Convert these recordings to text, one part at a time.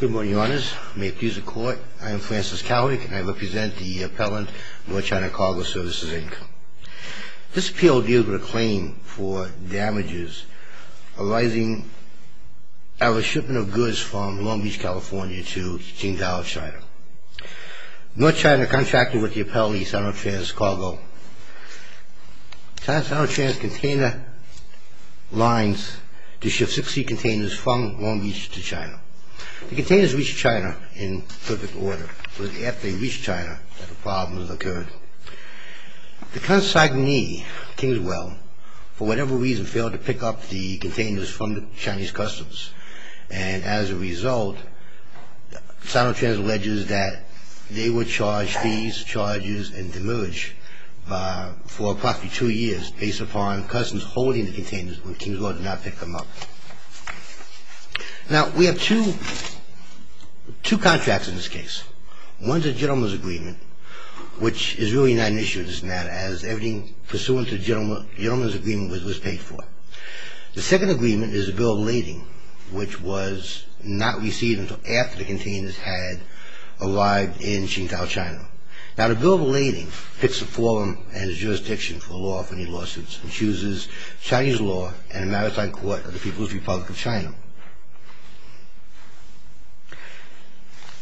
Good morning, Your Honors. May it please the Court, I am Francis Cowick and I represent the appellant, North China Cargo Services, Inc. This appeal deals with a claim for damages arising out of a shipment of goods from Long Beach, California to Qingdao, China. North China contracted with the appellee, Sinotrans Cargo, Sinotrans Container Lines, to ship 60 containers from Long Beach to China. The containers reached China in perfect order, but it was after they reached China that the problems occurred. The consignee, Kingswell, for whatever reason, failed to pick up the containers from the Chinese customs, and as a result, Sinotrans alleges that they were charged fees, charges, and demerge for approximately two years based upon customs holding the containers when Kingswell did not pick them up. Now, we have two contracts in this case. One is a gentleman's agreement, which is really not an issue in this matter, as everything pursuant to the gentleman's agreement was paid for. The second agreement is a bill of lading, which was not received until after the containers had arrived in Qingdao, China. Now, the bill of lading picks a forum and its jurisdiction for lawful lawsuits and chooses Chinese law and a maritime court of the People's Republic of China.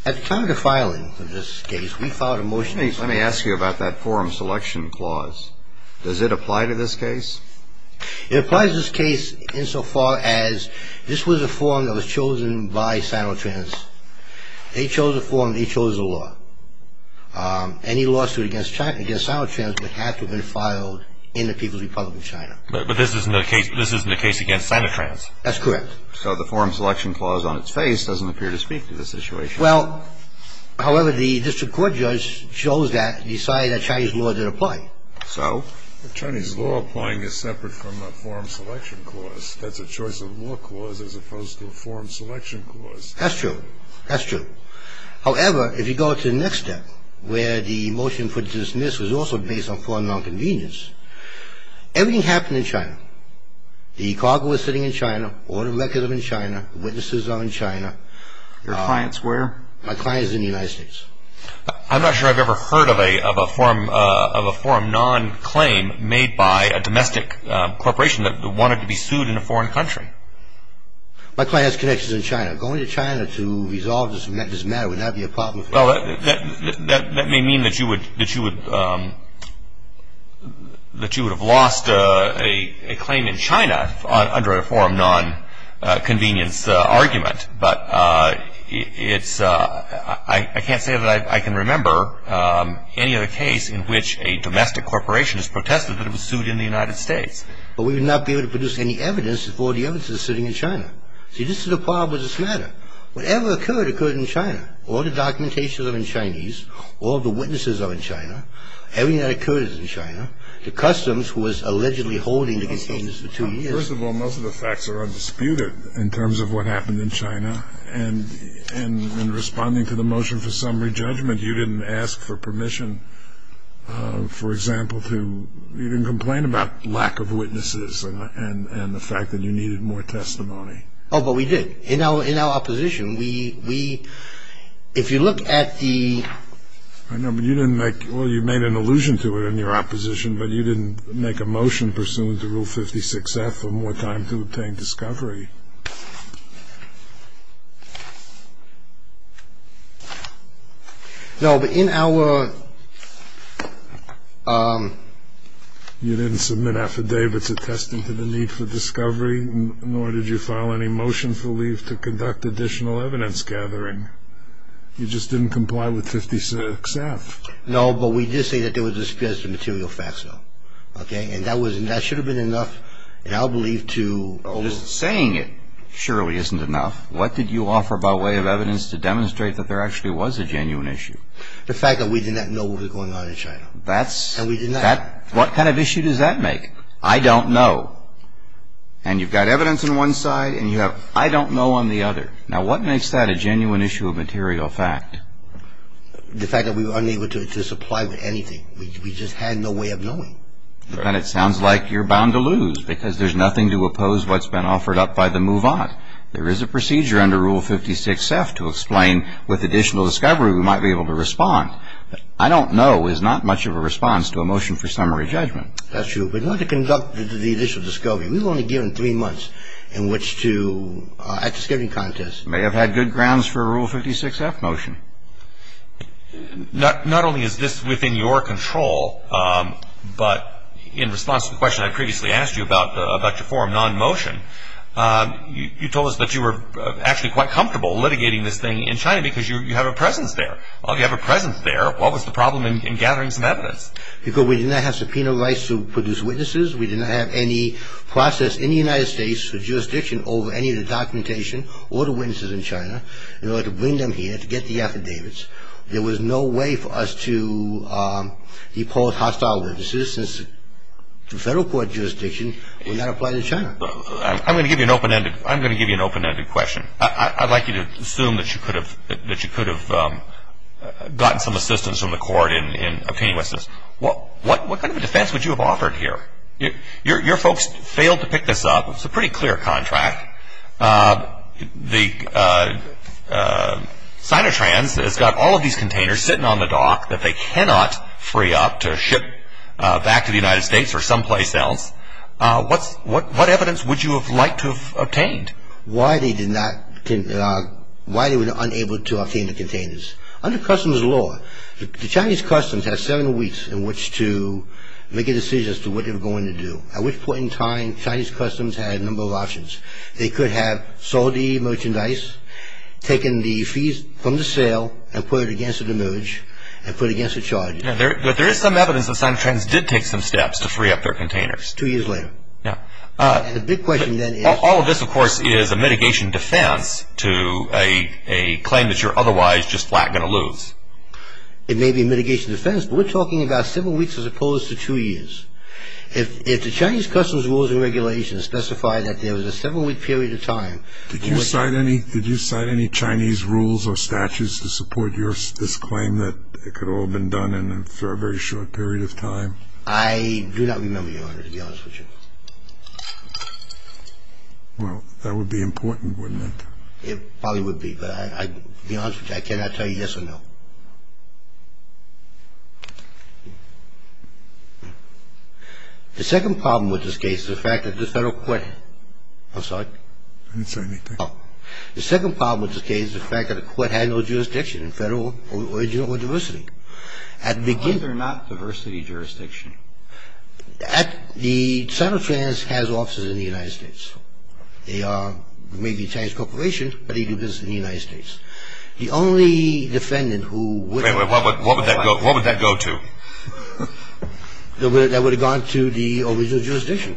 At the time of the filing of this case, we filed a motion... Let me ask you about that forum selection clause. Does it apply to this case? It applies to this case insofar as this was a forum that was chosen by Sinotrans. They chose a forum, they chose a law. Any lawsuit against Sinotrans would have to have been filed in the People's Republic of China. But this isn't a case against Sinotrans? That's correct. So the forum selection clause on its face doesn't appear to speak to this situation. Well, however, the district court judge chose that, decided that Chinese law didn't apply. So? The Chinese law applying is separate from the forum selection clause. That's a choice of law clause as opposed to a forum selection clause. That's true. That's true. However, if you go to the next step, where the motion for dismissal is also based on forum nonconvenience, everything happened in China. The cargo was sitting in China, all the records are in China, witnesses are in China. Your clients where? My clients are in the United States. I'm not sure I've ever heard of a forum nonclaim made by a domestic corporation that wanted to be sued in a foreign country. My client has connections in China. Going to China to resolve this matter would not be a problem for me. That may mean that you would have lost a claim in China under a forum nonconvenience argument. But I can't say that I can remember any other case in which a domestic corporation has protested that it was sued in the United States. But we would not be able to produce any evidence if all the evidence was sitting in China. See, this is the problem with this matter. Whatever occurred, occurred in China. All the documentations are in Chinese. All the witnesses are in China. Everything that occurred is in China. The customs was allegedly holding the cases for two years. First of all, most of the facts are undisputed in terms of what happened in China. And in responding to the motion for summary judgment, you didn't ask for permission, for example, to even complain about lack of witnesses and the fact that you needed more testimony. Oh, but we did. In our opposition, if you look at the... I know, but you didn't make... ...for more time to obtain discovery. No, but in our... You didn't submit affidavits attesting to the need for discovery, nor did you file any motion for leave to conduct additional evidence gathering. You just didn't comply with 56-F. No, but we did say that there were disparities of material facts, though. And that should have been enough, I believe, to... Just saying it surely isn't enough. What did you offer by way of evidence to demonstrate that there actually was a genuine issue? The fact that we did not know what was going on in China. What kind of issue does that make? I don't know. And you've got evidence on one side and you have... I don't know on the other. Now, what makes that a genuine issue of material fact? The fact that we were unable to supply with anything. We just had no way of knowing. And it sounds like you're bound to lose, because there's nothing to oppose what's been offered up by the move-on. There is a procedure under Rule 56-F to explain with additional discovery we might be able to respond. I don't know is not much of a response to a motion for summary judgment. That's true. But not to conduct the additional discovery. We were only given three months in which to... at discovery contest. May have had good grounds for a Rule 56-F motion. Not only is this within your control, but in response to the question I previously asked you about your forum non-motion, you told us that you were actually quite comfortable litigating this thing in China, because you have a presence there. You have a presence there. What was the problem in gathering some evidence? Because we did not have subpoena rights to produce witnesses. We did not have any process in the United States, jurisdiction over any of the documentation or the witnesses in China, in order to bring them here to get the affidavits. There was no way for us to depose hostile witnesses since the federal court jurisdiction would not apply to China. I'm going to give you an open-ended question. I'd like you to assume that you could have gotten some assistance from the court in obtaining witnesses. What kind of a defense would you have offered here? Your folks failed to pick this up. It's a pretty clear contract. The Sinotrans has got all of these containers sitting on the dock that they cannot free up to ship back to the United States or someplace else. What evidence would you have liked to have obtained? Why they were unable to obtain the containers. Under customs law, the Chinese customs had seven weeks in which to make a decision as to what they were going to do. At which point in time, Chinese customs had a number of options. They could have sold the merchandise, taken the fees from the sale, and put it against a demerge and put it against a charge. But there is some evidence that Sinotrans did take some steps to free up their containers. Two years later. And the big question then is... All of this, of course, is a mitigation defense to a claim that you're otherwise just flat going to lose. It may be a mitigation defense, but we're talking about seven weeks as opposed to two years. If the Chinese customs rules and regulations specify that there was a seven-week period of time... Did you cite any Chinese rules or statutes to support this claim that it could all have been done in a very short period of time? I do not remember, Your Honor, to be honest with you. Well, that would be important, wouldn't it? It probably would be, but to be honest with you, I cannot tell you yes or no. The second problem with this case is the fact that the federal court... I'm sorry? I didn't say anything. Oh. The second problem with this case is the fact that the court had no jurisdiction in federal origin or diversity. At the beginning... Why is there not diversity jurisdiction? The Sinotrans has offices in the United States. They are maybe a Chinese corporation, but they do business in the United States. The only defendant who would... Wait a minute. What would that go to? That would have gone to the original jurisdiction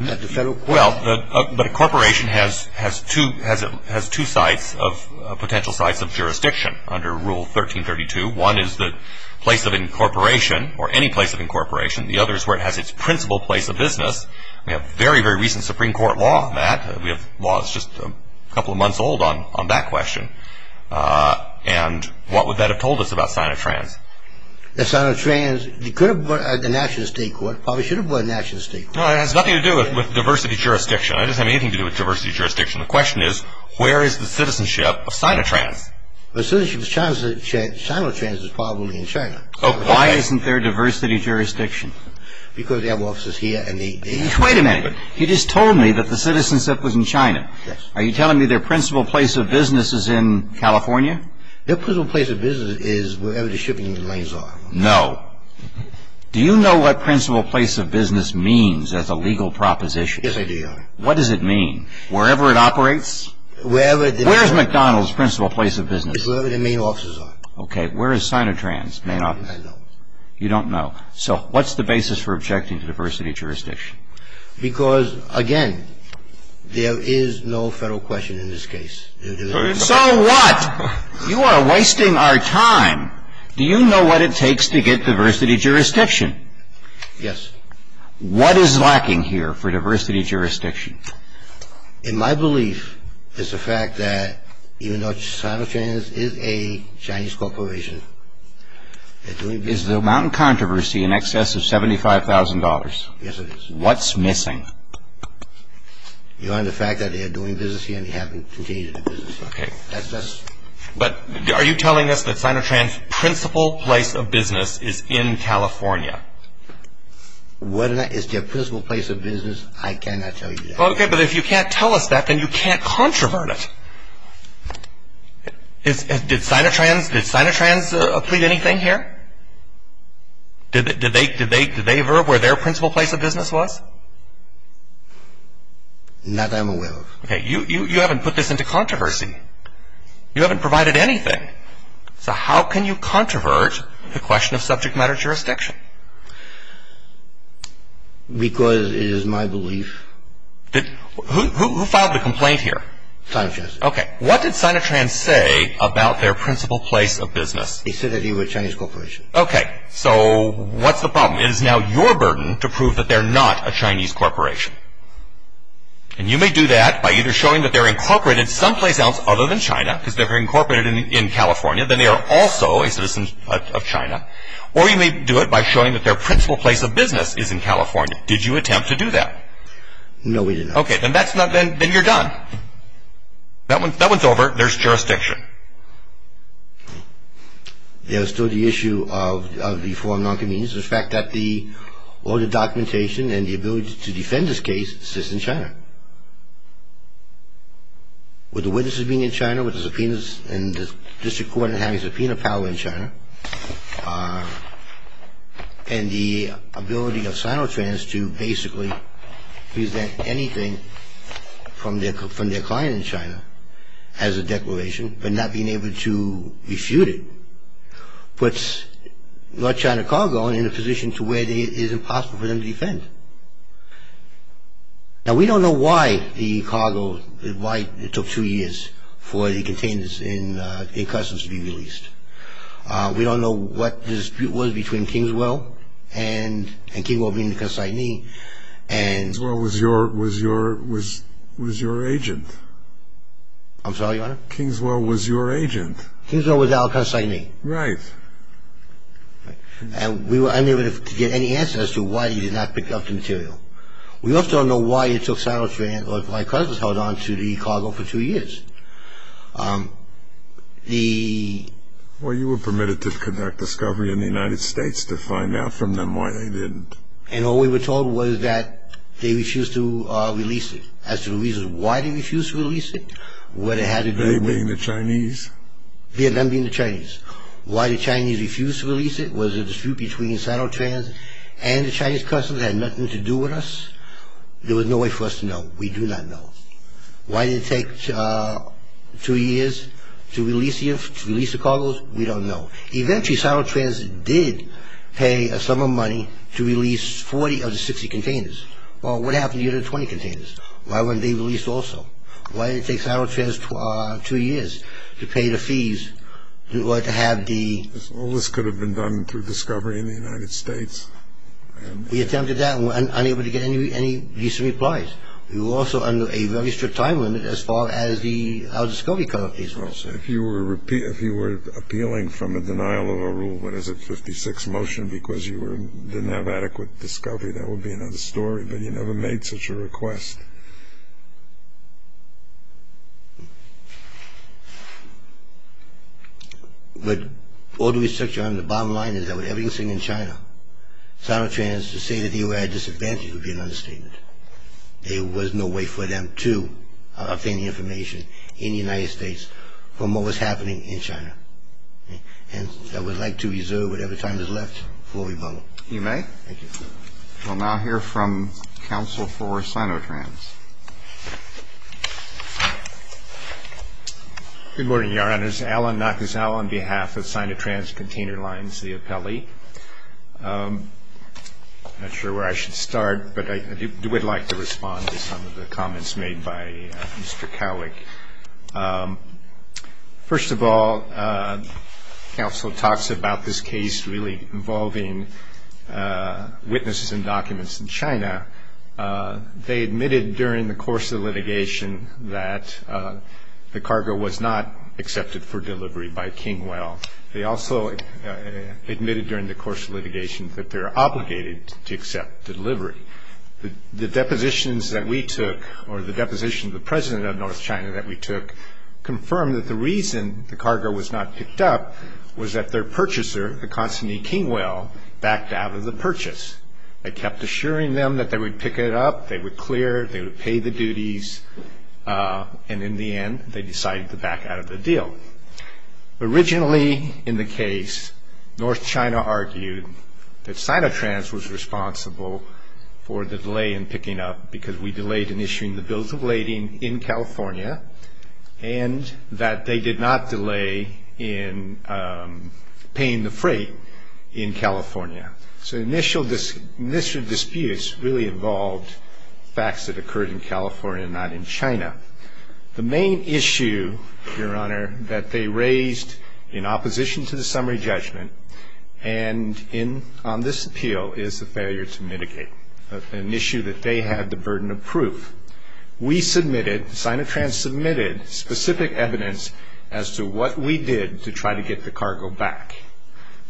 at the federal court. Well, but a corporation has two sites of potential sites of jurisdiction under Rule 1332. One is the place of incorporation or any place of incorporation. The other is where it has its principal place of business. We have very, very recent Supreme Court law on that. We have laws just a couple of months old on that question. And what would that have told us about Sinotrans? The Sinotrans, you could have brought it to the national state court. Probably should have brought it to the national state court. Well, it has nothing to do with diversity jurisdiction. It doesn't have anything to do with diversity jurisdiction. The question is, where is the citizenship of Sinotrans? The citizenship of Sinotrans is probably in China. Why isn't there diversity jurisdiction? Because they have officers here and they... Wait a minute. You just told me that the citizenship was in China. Yes. Are you telling me their principal place of business is in California? Their principal place of business is wherever the shipping lanes are. No. Do you know what principal place of business means as a legal proposition? Yes, I do, Your Honor. What does it mean? Wherever it operates? Wherever the... Where is McDonald's principal place of business? It's wherever the main offices are. Okay. Where is Sinotrans' main office? I don't know. You don't know. So, what's the basis for objecting to diversity jurisdiction? Because, again, there is no federal question in this case. So what? You are wasting our time. Do you know what it takes to get diversity jurisdiction? Yes. What is lacking here for diversity jurisdiction? In my belief, it's the fact that even though Sinotrans is a Chinese corporation... Is the amount in controversy in excess of $75,000? Yes, it is. What's missing? Your Honor, the fact that they are doing business here and they haven't conceded the business. Okay. That's just... But are you telling us that Sinotrans' principal place of business is in California? Whether or not it's their principal place of business, I cannot tell you that. Okay, but if you can't tell us that, then you can't controvert it. Did Sinotrans plead anything here? Did they verb where their principal place of business was? Not that I'm aware of. Okay, you haven't put this into controversy. You haven't provided anything. So how can you controvert the question of subject matter jurisdiction? Because it is my belief... Who filed the complaint here? Sinotrans. Okay. What did Sinotrans say about their principal place of business? He said that he was a Chinese corporation. Okay. So what's the problem? It is now your burden to prove that they're not a Chinese corporation. And you may do that by either showing that they're incorporated someplace else other than China, because they're incorporated in California, then they are also a citizen of China, or you may do it by showing that their principal place of business is in California. Did you attempt to do that? No, we did not. Okay, then you're done. That one's over. There's jurisdiction. There's still the issue of the form of non-convenience. In fact, all the documentation and the ability to defend this case sits in China. With the witnesses being in China, with the subpoenas, and the district court having subpoena power in China, and the ability of Sinotrans to basically present anything from their client in China as a declaration, but not being able to refute it, puts North China Cargo in a position to where it is impossible for them to defend. Now, we don't know why the cargo, why it took two years for the containers in customs to be released. We don't know what the dispute was between Kingswell and Kingswell being the consignee. Kingswell was your agent. I'm sorry, Your Honor? Kingswell was your agent. Kingswell was our consignee. Right. And we were unable to get any answer as to why he did not pick up the material. We also don't know why it took Sinotrans, or my cousins held on to the cargo for two years. Well, you were permitted to conduct discovery in the United States to find out from them why they didn't. And all we were told was that they refused to release it. As to the reason why they refused to release it, what it had to do with They being the Chinese? Them being the Chinese. Why the Chinese refused to release it, was it a dispute between Sinotrans and the Chinese customs that had nothing to do with us? There was no way for us to know. We do not know. Why did it take two years to release the cargoes? We don't know. Eventually, Sinotrans did pay some of the money to release 40 of the 60 containers. Well, what happened to the other 20 containers? Why weren't they released also? Why did it take Sinotrans two years to pay the fees in order to have the Well, this could have been done through discovery in the United States. We attempted that and were unable to get any decent replies. We were also under a very strict time limit as far as our discovery coverage was. If you were appealing from a denial of a rule, what is it, 56 motion, because you didn't have adequate discovery, that would be another story. But you never made such a request. But all the research on the bottom line is that with everything in China, Sinotrans to say that they were at a disadvantage would be an understatement. There was no way for them to obtain the information in the United States from what was happening in China. And I would like to reserve whatever time is left before we vote. You may. Thank you. We'll now hear from counsel for Sinotrans. Good morning, Your Honors. Alan Nakazawa on behalf of Sinotrans Container Lines, the appellee. I'm not sure where I should start, but I would like to respond to some of the comments made by Mr. Cowick. First of all, counsel talks about this case really involving witnesses and documents in China. They admitted during the course of litigation that the cargo was not accepted for delivery by King Well. They also admitted during the course of litigation that they're obligated to accept the delivery. The depositions that we took, or the deposition of the president of North China that we took, confirmed that the reason the cargo was not picked up was that their purchaser, the constantly King Well, backed out of the purchase. I kept assuring them that they would pick it up, they would clear, they would pay the duties. And in the end, they decided to back out of the deal. Originally in the case, North China argued that Sinotrans was responsible for the delay in picking up because we delayed in issuing the bills of lading in California and that they did not delay in paying the freight in California. So initial disputes really involved facts that occurred in California, not in China. The main issue, Your Honor, that they raised in opposition to the summary judgment and on this appeal is the failure to mitigate, an issue that they had the burden of proof. We submitted, Sinotrans submitted, specific evidence as to what we did to try to get the cargo back.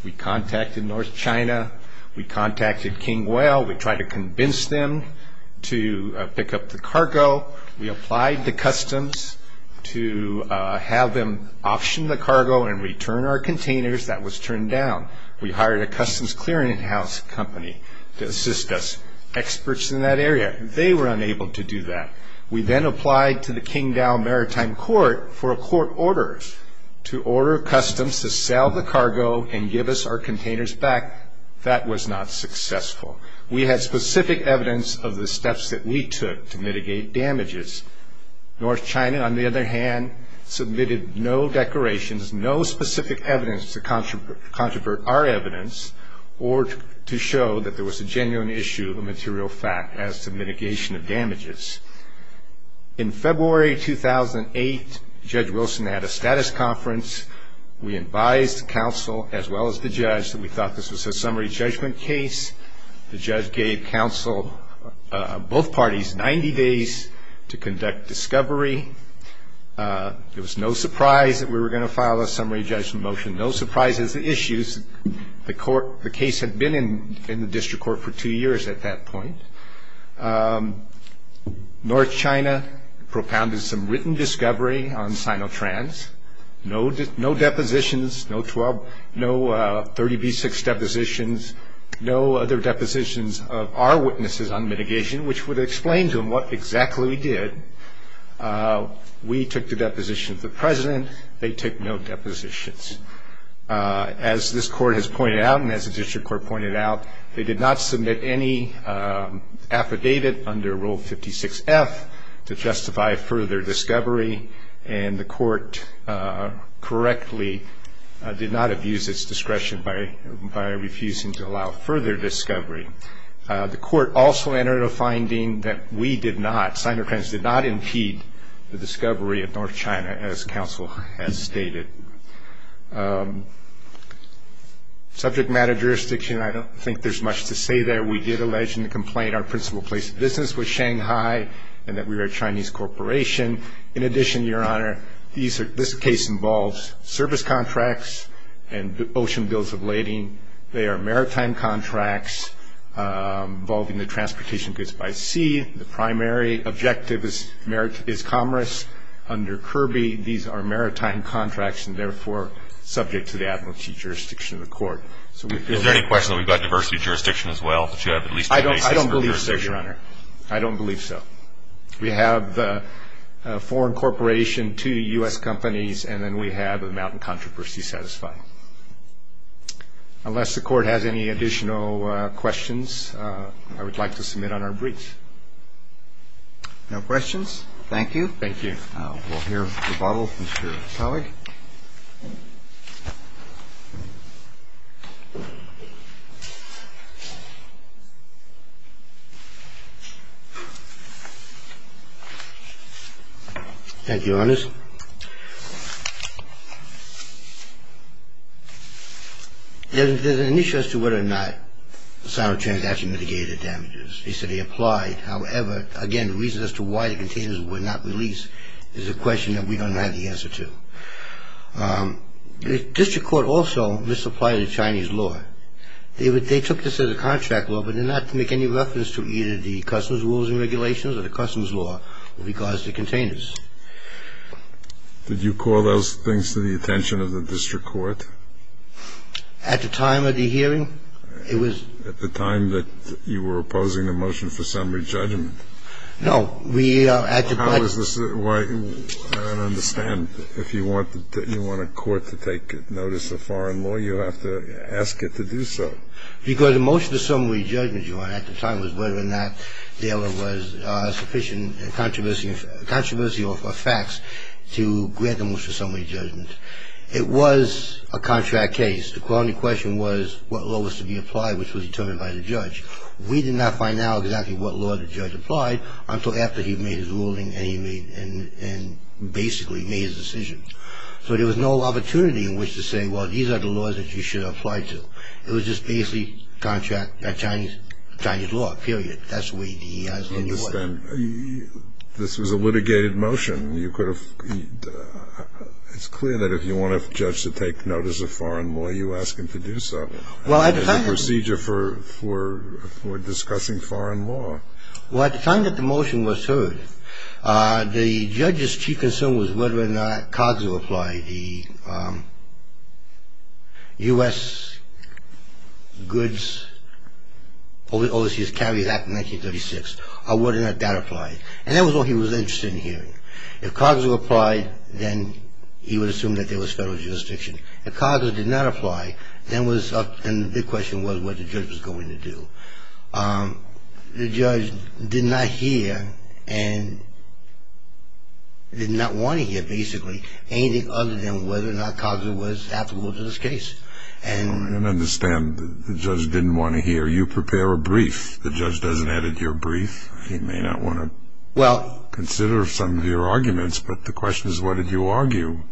We contacted North China. We contacted King Well. We tried to convince them to pick up the cargo. We applied to Customs to have them auction the cargo and return our containers. That was turned down. We hired a Customs clearing house company to assist us, experts in that area. They were unable to do that. We then applied to the King Dow Maritime Court for a court order to order Customs to sell the cargo and give us our containers back. That was not successful. We had specific evidence of the steps that we took to mitigate damages. North China, on the other hand, submitted no declarations, no specific evidence to controvert our evidence or to show that there was a genuine issue of material fact as to mitigation of damages. In February 2008, Judge Wilson had a status conference. We advised counsel, as well as the judge, that we thought this was a summary judgment case. The judge gave counsel, both parties, 90 days to conduct discovery. It was no surprise that we were going to file a summary judgment motion. No surprise is the issues. The case had been in the district court for two years at that point. North China propounded some written discovery on Sinotrans. No depositions, no 30B6 depositions, no other depositions of our witnesses on mitigation, we took the depositions of the president, they took no depositions. As this court has pointed out and as the district court pointed out, they did not submit any affidavit under Rule 56F to justify further discovery, and the court correctly did not abuse its discretion by refusing to allow further discovery. The court also entered a finding that we did not, Sinotrans did not impede the discovery of North China as counsel has stated. Subject matter jurisdiction, I don't think there's much to say there. We did allege in the complaint our principal place of business was Shanghai and that we were a Chinese corporation. In addition, Your Honor, this case involves service contracts and ocean bills of lading. They are maritime contracts involving the transportation goods by sea. The primary objective is commerce under Kirby. These are maritime contracts and therefore subject to the advocacy jurisdiction of the court. Is there any question that we've got diversity of jurisdiction as well? I don't believe so, Your Honor. I don't believe so. We have a foreign corporation, two U.S. companies, and then we have a mountain controversy satisfied. Unless the court has any additional questions, I would like to submit on our brief. No questions? Thank you. Thank you. We'll hear a rebuttal from Mr. Pollack. Thank you, Your Honor. There's an issue as to whether or not Sinotrans actually mitigated the damages. He said he applied. However, again, the reason as to why the containers were not released is a question that we don't have the answer to. The district court also misapplied the Chinese law. They took this as a contract law but did not make any reference to either the customs rules and regulations or the customs law with regards to containers. Did you call those things to the attention of the district court? At the time of the hearing, it was. At the time that you were opposing the motion for summary judgment? No. How is this? I don't understand. If you want a court to take notice of foreign law, you have to ask it to do so. Because the motion for summary judgment, Your Honor, at the time was whether or not there was sufficient controversy or facts to grant the motion for summary judgment. It was a contract case. The only question was what law was to be applied, which was determined by the judge. We did not find out exactly what law the judge applied until after he made his ruling and basically made his decision. So there was no opportunity in which to say, well, these are the laws that you should apply to. It was just basically contract Chinese law, period. That's the way he asked it anyway. I don't understand. This was a litigated motion. It's clear that if you want a judge to take notice of foreign law, you ask him to do so. It's a procedure for discussing foreign law. Well, at the time that the motion was heard, the judge's chief concern was whether or not COGS would apply, the U.S. Goods Overseas Carriers Act of 1936, whether or not that applied. And that was all he was interested in hearing. If COGS would apply, then he would assume that there was federal jurisdiction. If COGS did not apply, then the question was what the judge was going to do. The judge did not hear and did not want to hear, basically, anything other than whether or not COGS was applicable to this case. I don't understand. The judge didn't want to hear. You prepare a brief. The judge doesn't edit your brief. He may not want to consider some of your arguments, but the question is what did you argue?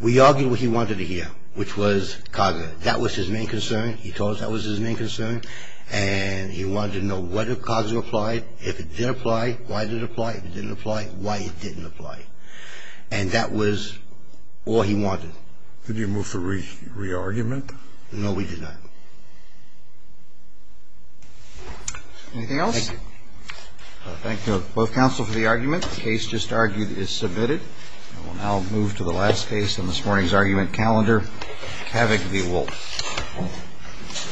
We argued what he wanted to hear, which was COGS. That was his main concern. He told us that was his main concern. And he wanted to know whether COGS would apply. If it did apply, why did it apply? If it didn't apply, why it didn't apply. And that was all he wanted. Did you move for re-argument? No, we did not. Anything else? Thank you, both counsel, for the argument. The case just argued is submitted. We'll now move to the last case in this morning's argument calendar, Kavig v. Wolfe.